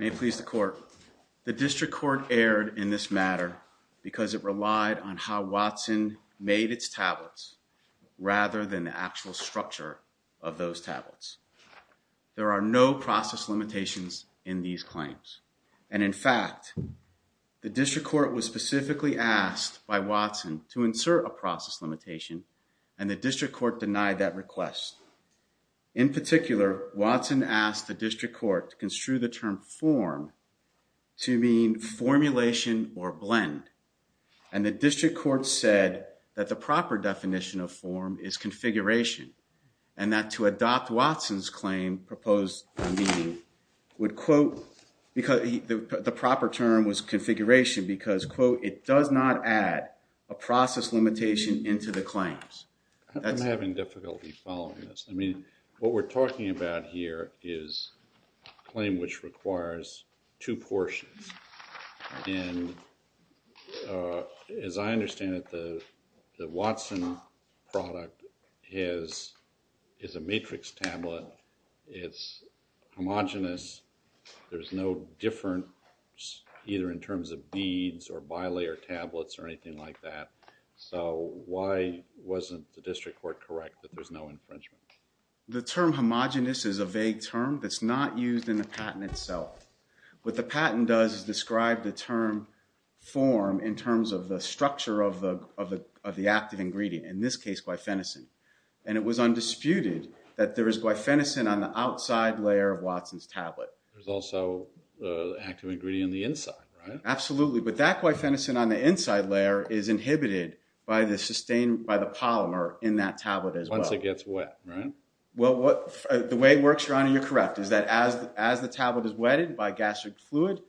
May it please the court. The district court erred in this matter because it relied on how Watson made its tablets rather than the actual structure of those tablets. There are no process limitations in these claims and in fact, the district court was specifically asked by Watson to insert a process limitation and the district court denied that request. In particular, Watson asked the district court to construe the term form to mean formulation or blend and the district court said that the proper definition of form is configuration and that to adopt Watson's claim proposed meaning would quote because the proper term was configuration because quote, it does not add a process limitation into the claims. I'm having difficulty following this. I mean, what we're talking about here is a claim which requires two portions and as I understand it, the Watson product is a matrix tablet. It's homogenous. There's no difference either in terms of beads or bilayer tablets or anything like that. So why wasn't the district court correct that there's no infringement? The term homogenous is a vague term that's not used in the patent itself. What the patent does is describe the term form in terms of the structure of the active ingredient, in this case, glyphenicin and it was undisputed that there is glyphenicin on the outside layer of Watson's tablet. There's also an active ingredient on the inside, right? Absolutely, but that glyphenicin on the inside layer is inhibited by the polymer in that tablet as well. Once it gets wet, right? The way it works, your honor, you're correct, is that as the tablet is wetted by gastric fluid,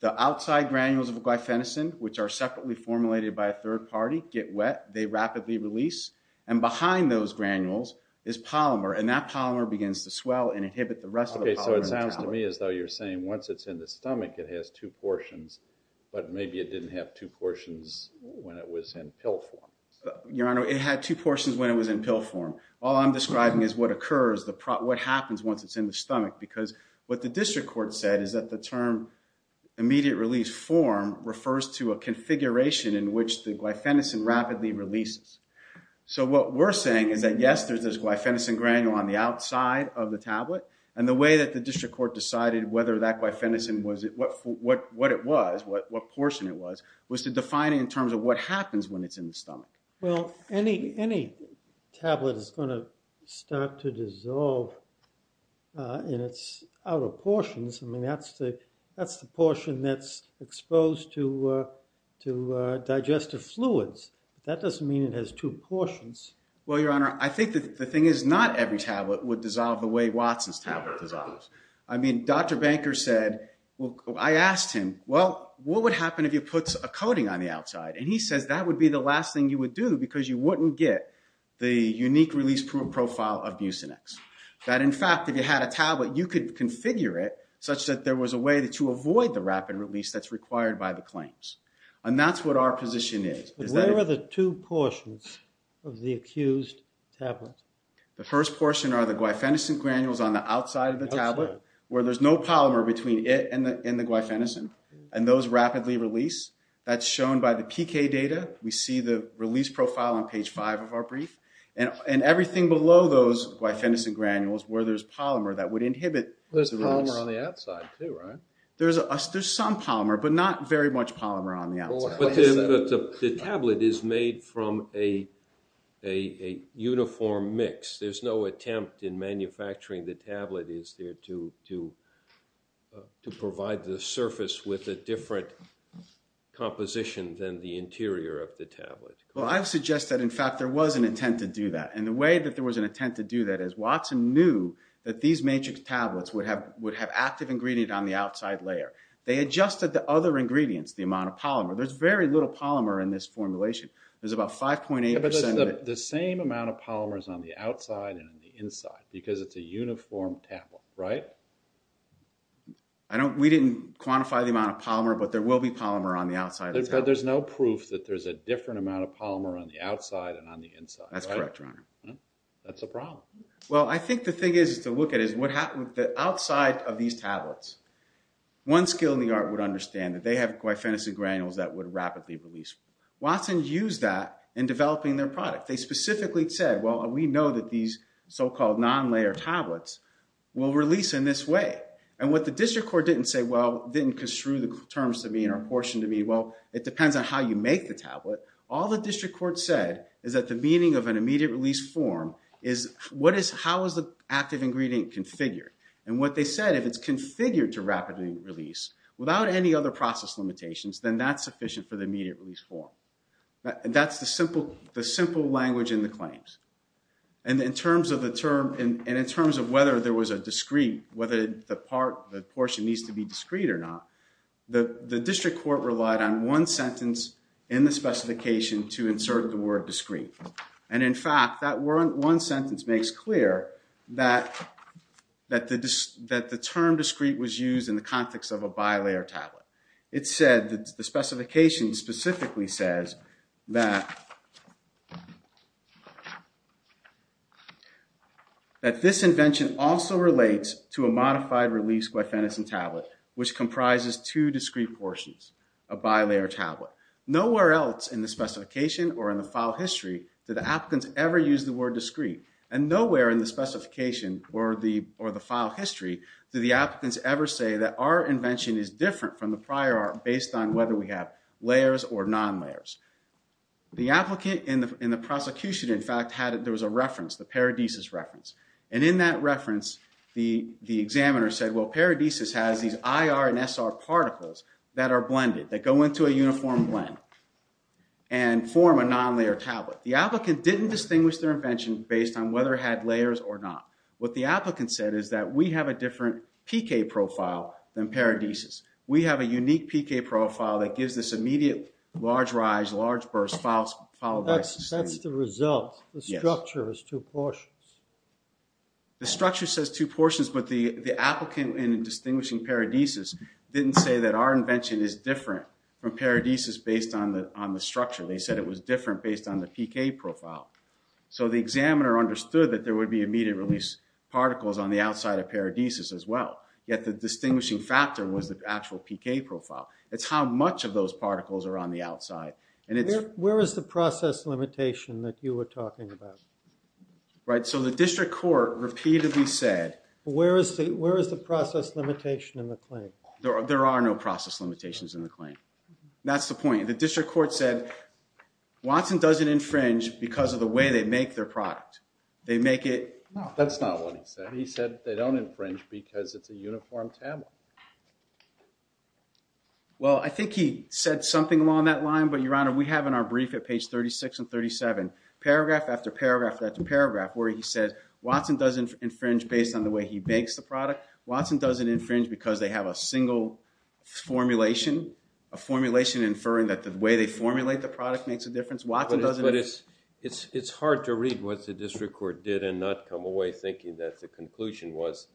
the outside granules of glyphenicin, which are separately formulated by a third party, get wet, they rapidly release and behind those granules is polymer and that polymer sounds to me as though you're saying once it's in the stomach it has two portions, but maybe it didn't have two portions when it was in pill form. Your honor, it had two portions when it was in pill form. All I'm describing is what occurs, what happens once it's in the stomach because what the district court said is that the term immediate release form refers to a configuration in which the glyphenicin rapidly releases. So what we're saying is that yes, there's glyphenicin granule on the outside of the stomach, but the court decided whether that glyphenicin was, what it was, what portion it was, was to define it in terms of what happens when it's in the stomach. Well, any tablet is going to start to dissolve in its outer portions, I mean that's the portion that's exposed to digestive fluids. That doesn't mean it has two portions. Well your honor, I think the thing is not every tablet would dissolve the way Watson's tablet dissolves. I mean, Dr. Banker said, well, I asked him, well, what would happen if you put a coating on the outside? And he says that would be the last thing you would do because you wouldn't get the unique release profile of Bucinex. That in fact, if you had a tablet, you could configure it such that there was a way to avoid the rapid release that's required by the claims. And that's what our position is. Where are the two portions of the accused tablet? The first portion are the glyphenicin granules on the outside of the tablet, where there's no polymer between it and the glyphenicin. And those rapidly release. That's shown by the PK data. We see the release profile on page five of our brief. And everything below those glyphenicin granules where there's polymer that would inhibit the release. There's polymer on the outside too, right? There's some polymer, but not very much polymer on the outside. But the tablet is made from a uniform mix. There's no attempt in manufacturing the tablet is there to provide the surface with a different composition than the interior of the tablet. Well, I would suggest that in fact there was an intent to do that. And the way that there was an intent to do that is Watson knew that these matrix tablets would have active ingredient on the outside layer. They adjusted the other ingredients, the amount of polymer. There's very little polymer in this formulation. There's about 5.8%... But there's the same amount of polymers on the outside and on the inside, because it's a uniform tablet, right? We didn't quantify the amount of polymer, but there will be polymer on the outside of the tablet. But there's no proof that there's a different amount of polymer on the outside and on the inside, right? That's correct, Your Honor. That's a problem. Well, I think the thing is to look at is what happened with the outside of these tablets. One skill in the art would understand that they have glyphosate granules that would rapidly release. Watson used that in developing their product. They specifically said, well, we know that these so-called non-layer tablets will release in this way. And what the district court didn't say, well, didn't construe the terms to mean or portion to mean, well, it depends on how you make the tablet. All the district court said is that the meaning of an immediate release form is how is the active ingredient configured? And what they said, if it's configured to rapidly release without any other process limitations, then that's sufficient for the immediate release form. That's the simple language in the claims. And in terms of whether there was a discreet, whether the portion needs to be discreet or not, the district court relied on one sentence in the specification to insert the word discreet. And in fact, that one sentence makes clear that the term discreet was used in the context of a bi-layer tablet. It said, the specification specifically says that this invention also relates to a modified release glyphenosine tablet, which comprises two discreet portions, a bi-layer tablet. Nowhere else in the specification or in the file history did the applicants ever use the word discreet. And nowhere in the specification or the file history did the applicants ever say that our invention is different from the prior art based on whether we have layers or non-layers. The applicant in the prosecution, in fact, there was a reference, the Paradisus reference. And in that reference, the examiner said, well, Paradisus has these IR and SR particles that are blended, that go into a uniform blend and form a non-layer tablet. The applicant didn't distinguish their invention based on whether it had layers or not. What the applicant said is that we have a different PK profile than Paradisus. We have a unique PK profile that gives this immediate large rise, large burst followed by discreet. That's the result, the structure is two portions. The structure says two portions, but the applicant in distinguishing Paradisus didn't say that our invention is different from Paradisus based on the structure. They said it was different based on the PK profile. So the examiner understood that there would be immediate release particles on the outside of Paradisus as well. Yet the distinguishing factor was the actual PK profile. It's how much of those particles are on the outside. And it's- Where is the process limitation that you were talking about? Right. So the district court repeatedly said- Where is the process limitation in the claim? There are no process limitations in the claim. That's the point. The district court said Watson doesn't infringe because of the way they make their product. They make it- No, that's not what he said. He said they don't infringe because it's a uniform tablet. Well, I think he said something along that line, but Your Honor, we have in our brief at page 36 and 37, paragraph after paragraph after paragraph where he says Watson doesn't infringe based on the way he bakes the product. Watson doesn't infringe because they have a single formulation, a formulation inferring that the way they formulate the product makes a difference. Watson doesn't- But it's hard to read what the district court did and not come away thinking that the conclusion was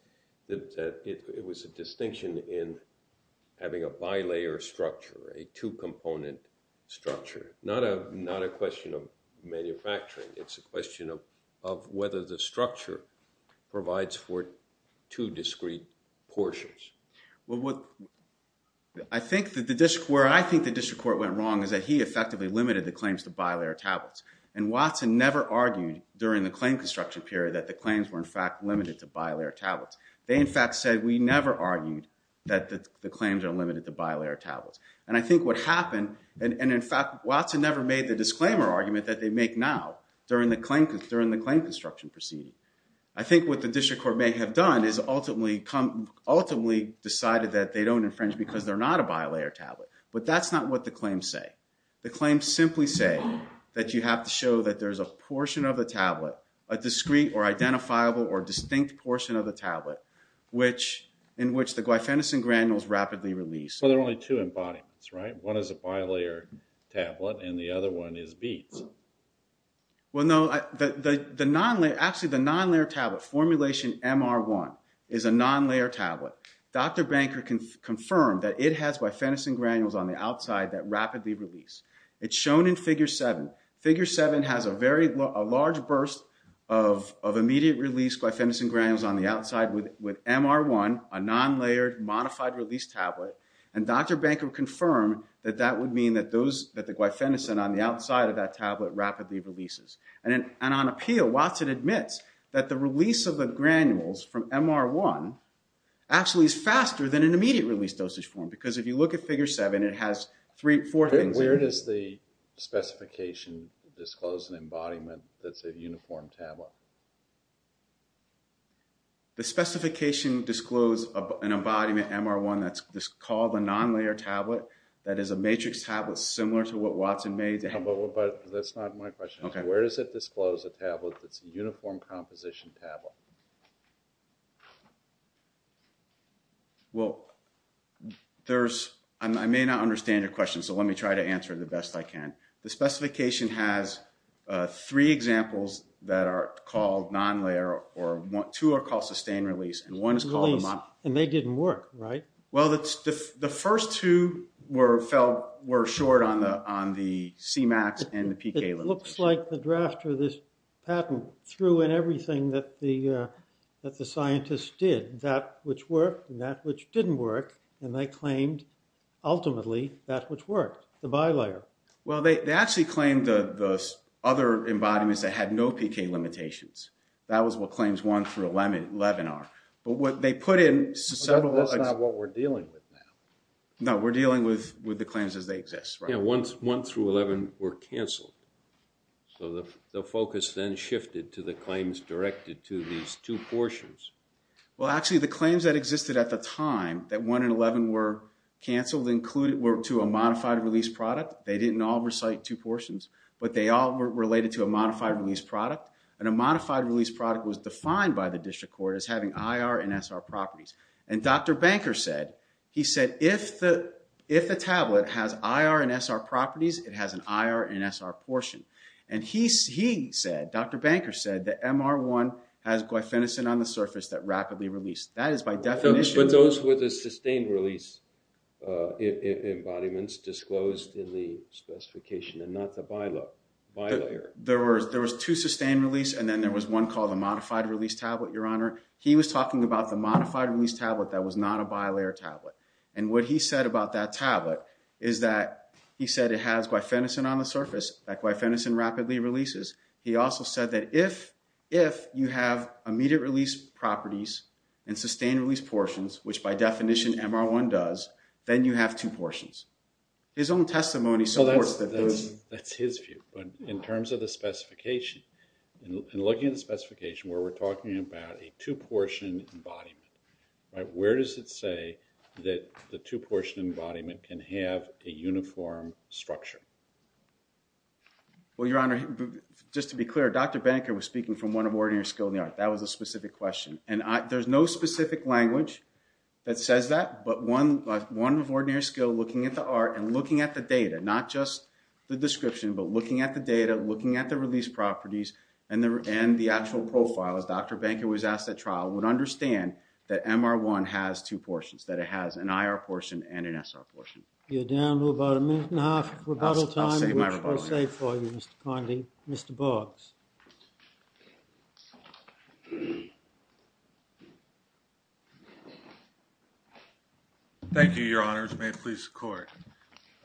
that it was a distinction in having a bilayer structure, a two-component structure. Not a question of manufacturing. It's a question of whether the structure provides for two discrete portions. Well, what I think the district court went wrong is that he effectively limited the claims to bilayer tablets. And Watson never argued during the claim construction period that the claims were, in fact, limited to bilayer tablets. They, in fact, said we never argued that the claims are limited to bilayer tablets. And I think what happened, and in fact, Watson never made the disclaimer argument that they make now during the claim construction proceeding. I think what the district court may have done is ultimately decided that they don't infringe because they're not a bilayer tablet. But that's not what the claims say. The claims simply say that you have to show that there's a portion of the tablet, a discrete or identifiable or distinct portion of the tablet, in which the glyphenosine granules rapidly release. Well, there are only two embodiments, right? One is a bilayer tablet, and the other one is BEATS. Well, no. Actually, the non-layer tablet, formulation MR1, is a non-layer tablet. Dr. Banker confirmed that it has glyphenosine granules on the outside that rapidly release. It's shown in figure 7. Figure 7 has a large burst of immediate release glyphenosine granules on the outside with MR1, a non-layered modified release tablet. And Dr. Banker confirmed that that would mean that the glyphenosine on the outside of that tablet rapidly releases. And on appeal, Watson admits that the release of the granules from MR1 actually is faster than an immediate release dosage form. Because if you look at figure 7, it has four things in it. Where does the specification disclose an embodiment that's a uniform tablet? The specification discloses an embodiment, MR1, that's called a non-layer tablet, that is a matrix tablet similar to what Watson made. But that's not my question. Where does it disclose a tablet that's a uniform composition tablet? Well, I may not understand your question, so let me try to answer it the best I can. The specification has three examples that are called non-layer, or two are called sustained release, and one is called a modified release. And they didn't work, right? Well, the first two were short on the CMAX and the PK limitation. It looks like the drafter of this patent threw in everything that the scientists did, that which worked and that which didn't work, and they claimed ultimately that which worked, the bi-layer. Well, they actually claimed the other embodiments that had no PK limitations. That was what claims 1 through 11 are. But what they put in several... But that's not what we're dealing with now. No, we're dealing with the claims as they exist, right? Yeah, 1 through 11 were canceled. So the focus then shifted to the claims directed to these two portions. Well, actually, the claims that existed at the time, that 1 and 11 were canceled, were to a modified release product. They didn't all recite two portions, but they all were related to a modified release product. And a modified release product was defined by the district court as having IR and SR properties. And Dr. Banker said, he said, if the tablet has IR and SR properties, it has an IR and SR portion. And he said, Dr. Banker said, that MR1 has glyphenicin on the surface that rapidly released. That is by definition... Embodiments disclosed in the specification and not the bilayer. There was two sustained release, and then there was one called a modified release tablet, Your Honor. He was talking about the modified release tablet that was not a bilayer tablet. And what he said about that tablet is that he said it has glyphenicin on the surface, that glyphenicin rapidly releases. He also said that if you have immediate release properties and sustained release portions, which by definition MR1 does, then you have two portions. His own testimony supports that. That's his view. But in terms of the specification, in looking at the specification where we're talking about a two-portion embodiment, right, where does it say that the two-portion embodiment can have a uniform structure? Well, Your Honor, just to be clear, Dr. Banker was speaking from one of ordinary skill in the art. That was a specific question. And there's no specific language that says that, but one of ordinary skill looking at the art and looking at the data, not just the description, but looking at the data, looking at the release properties, and the actual profiles, Dr. Banker was asked at trial, would understand that MR1 has two portions, that it has an IR portion and an SR portion. You're down to about a minute and a half of rebuttal time, which I'll save for you, Mr. Conde. Mr. Boggs. Thank you, Your Honors, may it please the Court.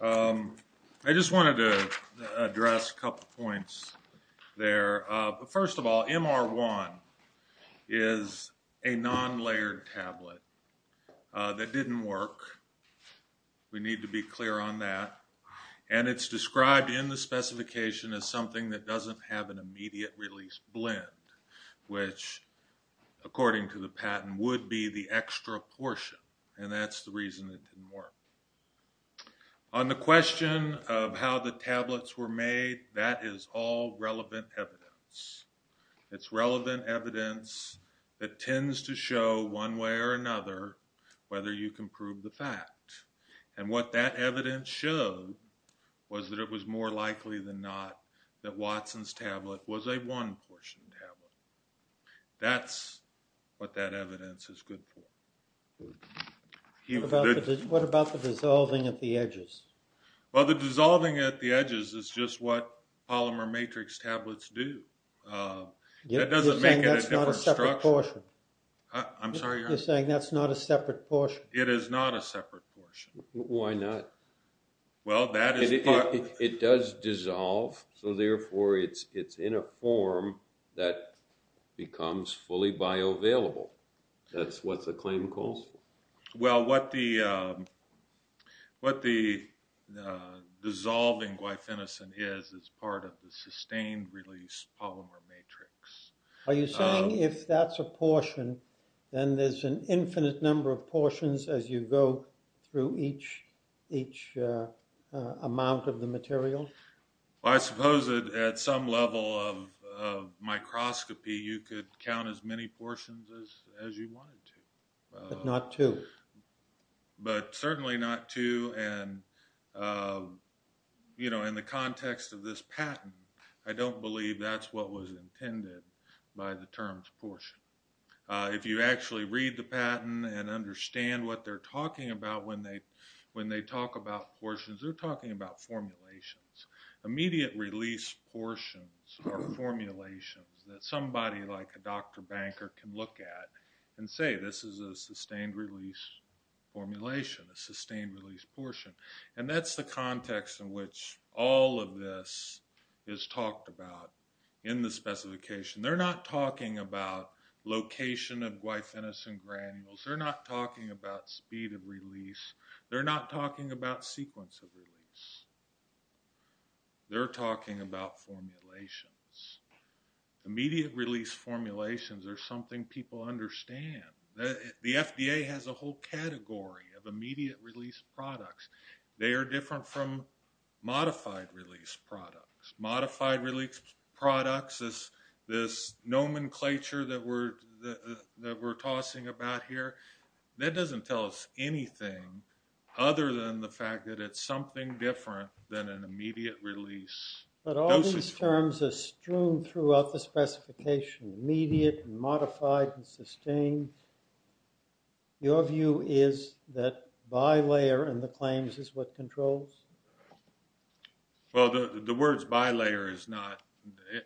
I just wanted to address a couple points there. First of all, MR1 is a non-layered tablet that didn't work. We need to be clear on that. And it's described in the specification as something that doesn't have an immediate release blend, which, according to the patent, would be the extra portion. And that's the reason it didn't work. On the question of how the tablets were made, that is all relevant evidence. It's relevant evidence that tends to show, one way or another, whether you can prove the fact. And what that evidence showed was that it was more likely than not that Watson's tablet was a one-portion tablet. That's what that evidence is good for. What about the dissolving at the edges? Well, the dissolving at the edges is just what polymer matrix tablets do. You're saying that's not a separate portion? I'm sorry, Your Honor? You're saying that's not a separate portion? It is not a separate portion. Why not? It does dissolve, so therefore it's in a form that becomes fully bioavailable. That's what the claim calls for. Well, what the dissolving glyphenicin is, is part of the sustained release polymer matrix. Are you saying if that's a portion, then there's an infinite number of portions as you go through each amount of the material? Well, I suppose that at some level of microscopy, you could count as many portions as you wanted to. But not two? But certainly not two, and in the context of this patent, I don't believe that's what was intended by the term portion. If you actually read the patent and understand what they're talking about when they talk about portions, they're talking about formulations. Immediate release portions are formulations that somebody like a doctor banker can look at and say, this is a sustained release formulation, a sustained release portion. And that's the context in which all of this is talked about in the specification. They're not talking about location of glyphenicin granules. They're not talking about speed of release. They're not talking about sequence of release. They're talking about formulations. Immediate release formulations are something people understand. The FDA has a whole category of immediate release products. They are different from modified release products. Modified release products, this nomenclature that we're tossing about here, that doesn't tell us anything other than the fact that it's something different than an immediate release. But all these terms are strewn throughout the specification, immediate and modified and sustained. Your view is that bilayer in the claims is what controls? Well, the words bilayer is not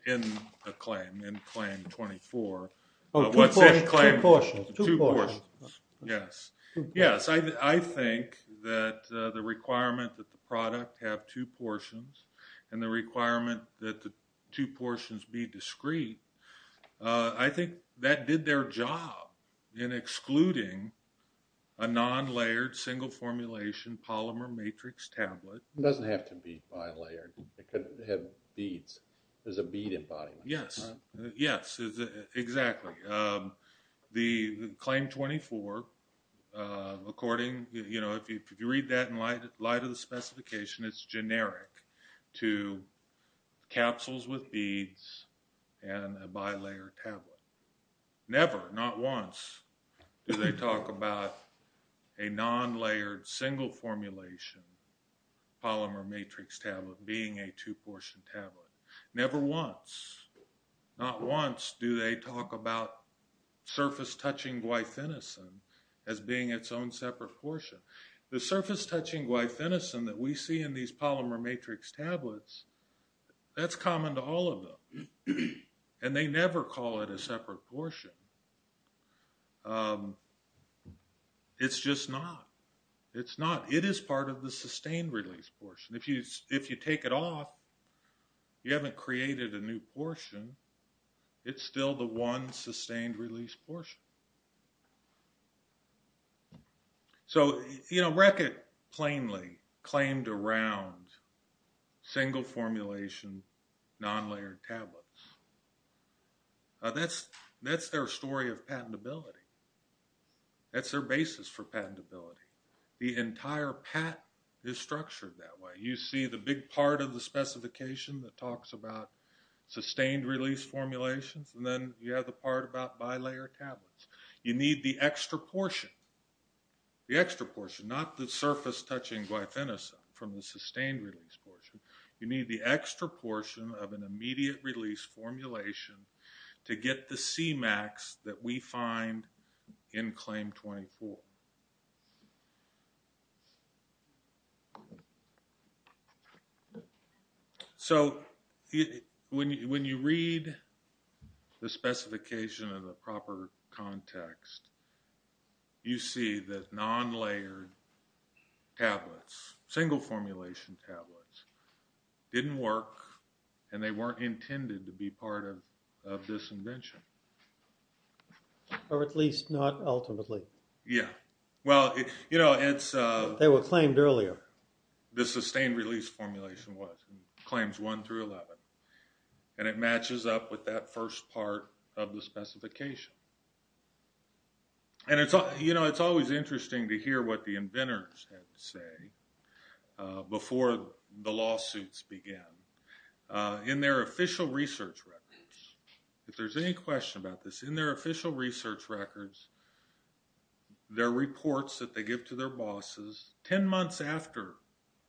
in the claim, in claim 24. Oh, what's that claim? Two portions. Two portions. Yes. Yes, I think that the requirement that the product have two portions and the requirement that the two portions be discrete, I think that did their job in excluding a non-layered single formulation polymer matrix tablet. It doesn't have to be bilayered. It could have beads. There's a bead embodiment. Yes. Yes. Exactly. The claim 24, according, if you read that in light of the specification, it's generic to capsules with beads and a bilayer tablet. Never, not once, do they talk about a non-layered single formulation polymer matrix tablet being a two portion tablet. Never once, not once, do they talk about surface touching glyphenicin as being its own separate portion. The surface touching glyphenicin that we see in these polymer matrix tablets, that's common to all of them. And they never call it a separate portion. It's just not. It's not. It is part of the sustained release portion. If you take it off, you haven't created a new portion. It's still the one sustained release portion. So, you know, Reckitt plainly claimed around single formulation non-layered tablets. That's their story of patentability. That's their basis for patentability. The entire patent is structured that way. You see the big part of the specification that talks about sustained release formulations and then you have the part about bilayer tablets. You need the extra portion, the extra portion, not the surface touching glyphenicin from the sustained release portion. You need the extra portion of an immediate release formulation to get the C-max that we find in claim 24. So, when you read the specification in the proper context, you see that non-layered tablets, single formulation tablets, didn't work and they weren't intended to be part of this invention. Or at least not ultimately. Yeah. Well, you know, it's... They were claimed earlier. The sustained release formulation was. Claims 1 through 11. And it matches up with that first part of the specification. And it's, you know, it's always interesting to hear what the inventors had to say before the lawsuits began. In their official research records. If there's any question about this, in their official research records, their reports that they give to their bosses, 10 months after,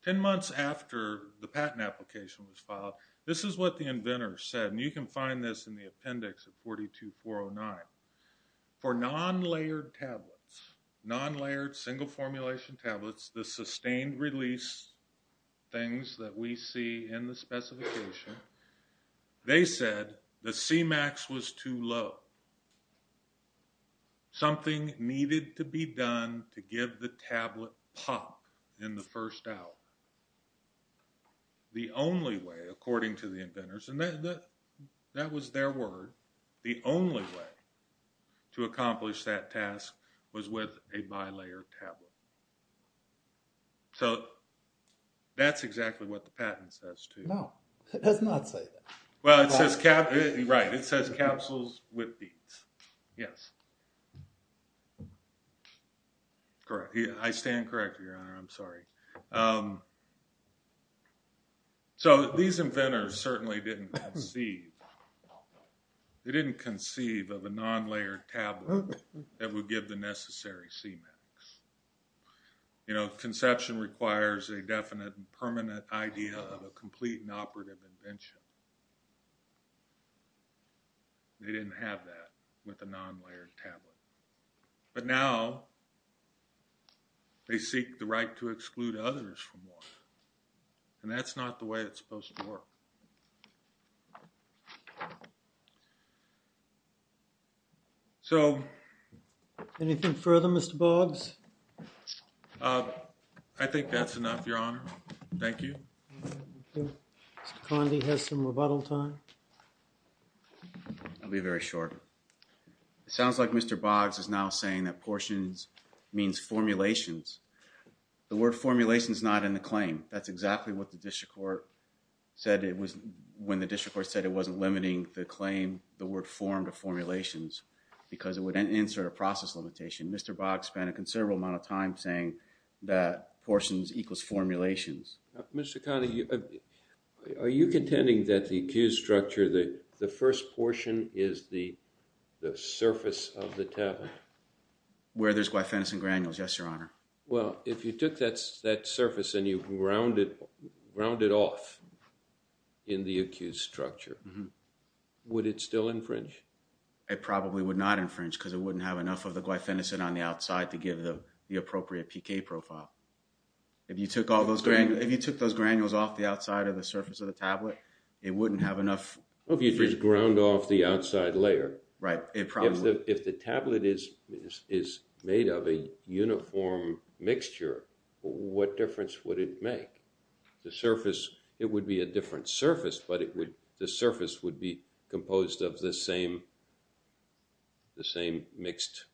10 months after the patent application was filed, this is what the inventor said. And you can find this in the appendix of 42.409. For non-layered tablets, non-layered single formulation tablets, the sustained release things that we see in the specification, they said the C-max was too low. Something needed to be done to give the tablet pop in the first hour. The only way, according to the inventors, and that was their word, the only way to accomplish that task was with a bi-layered tablet. So, that's exactly what the patent says too. No, it does not say that. Well, it says, right, it says capsules with beads. Yes. Correct. I stand corrected, your honor. I'm sorry. So, these inventors certainly didn't conceive, they didn't conceive of a non-layered tablet that would give the necessary C-max. You know, conception requires a definite and permanent idea of a complete and operative invention. They didn't have that with a non-layered tablet. But now, they seek the right to exclude others from one. And that's not the way it's supposed to work. Thank you. So, anything further, Mr. Boggs? I think that's enough, your honor. Thank you. Mr. Conde has some rebuttal time. I'll be very short. It sounds like Mr. Boggs is now saying that portions means formulations. The word formulation is not in the claim. That's exactly what the district court said it was, when the district court said it wasn't limiting the claim, the word form to formulations, because it would insert a process limitation. Mr. Boggs spent a considerable amount of time saying that portions equals formulations. Mr. Conde, are you contending that the accused structure, the first portion is the surface of the tablet? Where there's glyphenosine granules, yes, your honor. Well, if you took that surface and you ground it off in the accused structure, would it still infringe? It probably would not infringe, because it wouldn't have enough of the glyphenosine on the outside to give the appropriate PK profile. If you took those granules off the outside of the surface of the tablet, it wouldn't have enough… Well, if you just ground off the outside layer. Right. If the tablet is made of a uniform mixture, what difference would it make? The surface, it would be a different surface, but the surface would be composed of the same mixed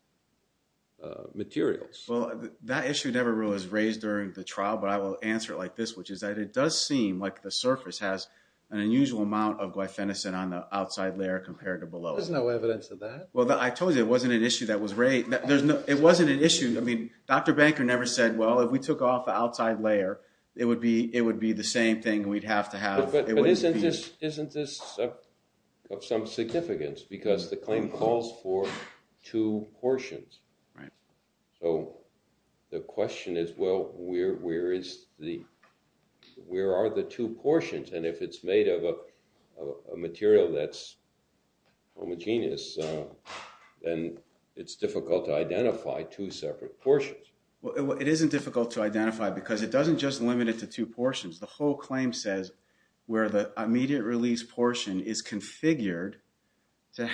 materials. Well, that issue never really was raised during the trial, but I will answer it like this, which is that it does seem like the surface has an unusual amount of glyphenosine on the outside layer compared to below it. Well, there's no evidence of that. Well, I told you it wasn't an issue that was raised. It wasn't an issue. I mean, Dr. Banker never said, well, if we took off the outside layer, it would be the same thing we'd have to have. But isn't this of some significance, because the claim calls for two portions. Right. So the question is, well, where are the two portions? And if it's made of a material that's homogeneous, then it's difficult to identify two separate portions. Well, it isn't difficult to identify, because it doesn't just limit it to two portions. The whole claim says where the immediate release portion is configured to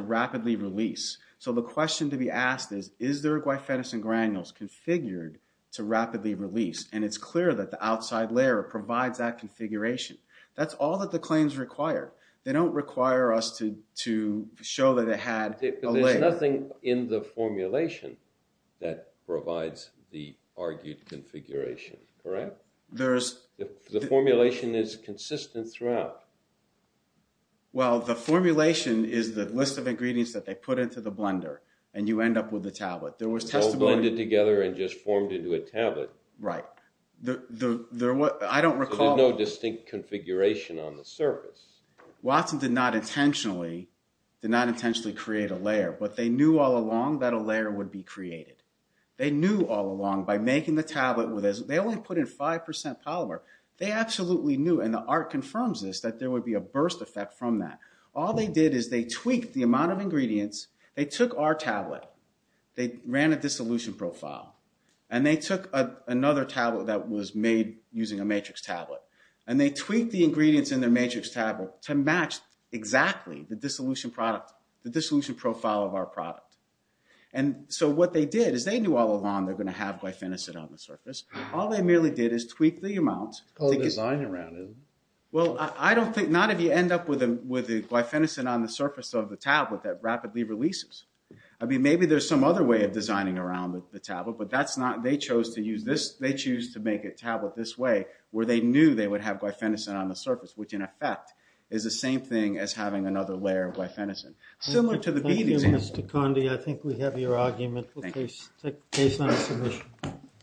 rapidly release. So the question to be asked is, is there glyphenosine granules configured to rapidly release? And it's clear that the outside layer provides that configuration. That's all that the claims require. They don't require us to show that it had a layer. There's nothing in the formulation that provides the argued configuration, correct? The formulation is consistent throughout. Well, the formulation is the list of ingredients that they put into the blender, and you end up with the tablet. It's all blended together and just formed into a tablet. Right. I don't recall... So there's no distinct configuration on the surface. Watson did not intentionally create a layer, but they knew all along that a layer would be created. They knew all along, by making the tablet, they only put in 5% polymer. They absolutely knew, and the art confirms this, that there would be a burst effect from that. All they did is they tweaked the amount of ingredients. They took our tablet, they ran a dissolution profile, and they took another tablet that was made using a matrix tablet. And they tweaked the ingredients in their matrix tablet to match exactly the dissolution profile of our product. And so what they did is they knew all along they're going to have glyphenosine on the surface. All they merely did is tweak the amount... It's called design-around, isn't it? Well, I don't think... not if you end up with the glyphenosine on the surface of the tablet that rapidly releases. I mean, maybe there's some other way of designing around the tablet, but that's not... They chose to use this... they chose to make a tablet this way, where they knew they would have glyphenosine on the surface, which in effect is the same thing as having another layer of glyphenosine. Similar to the bead example. Thank you, Mr. Kondi. I think we have your argument. We'll take the case on submission.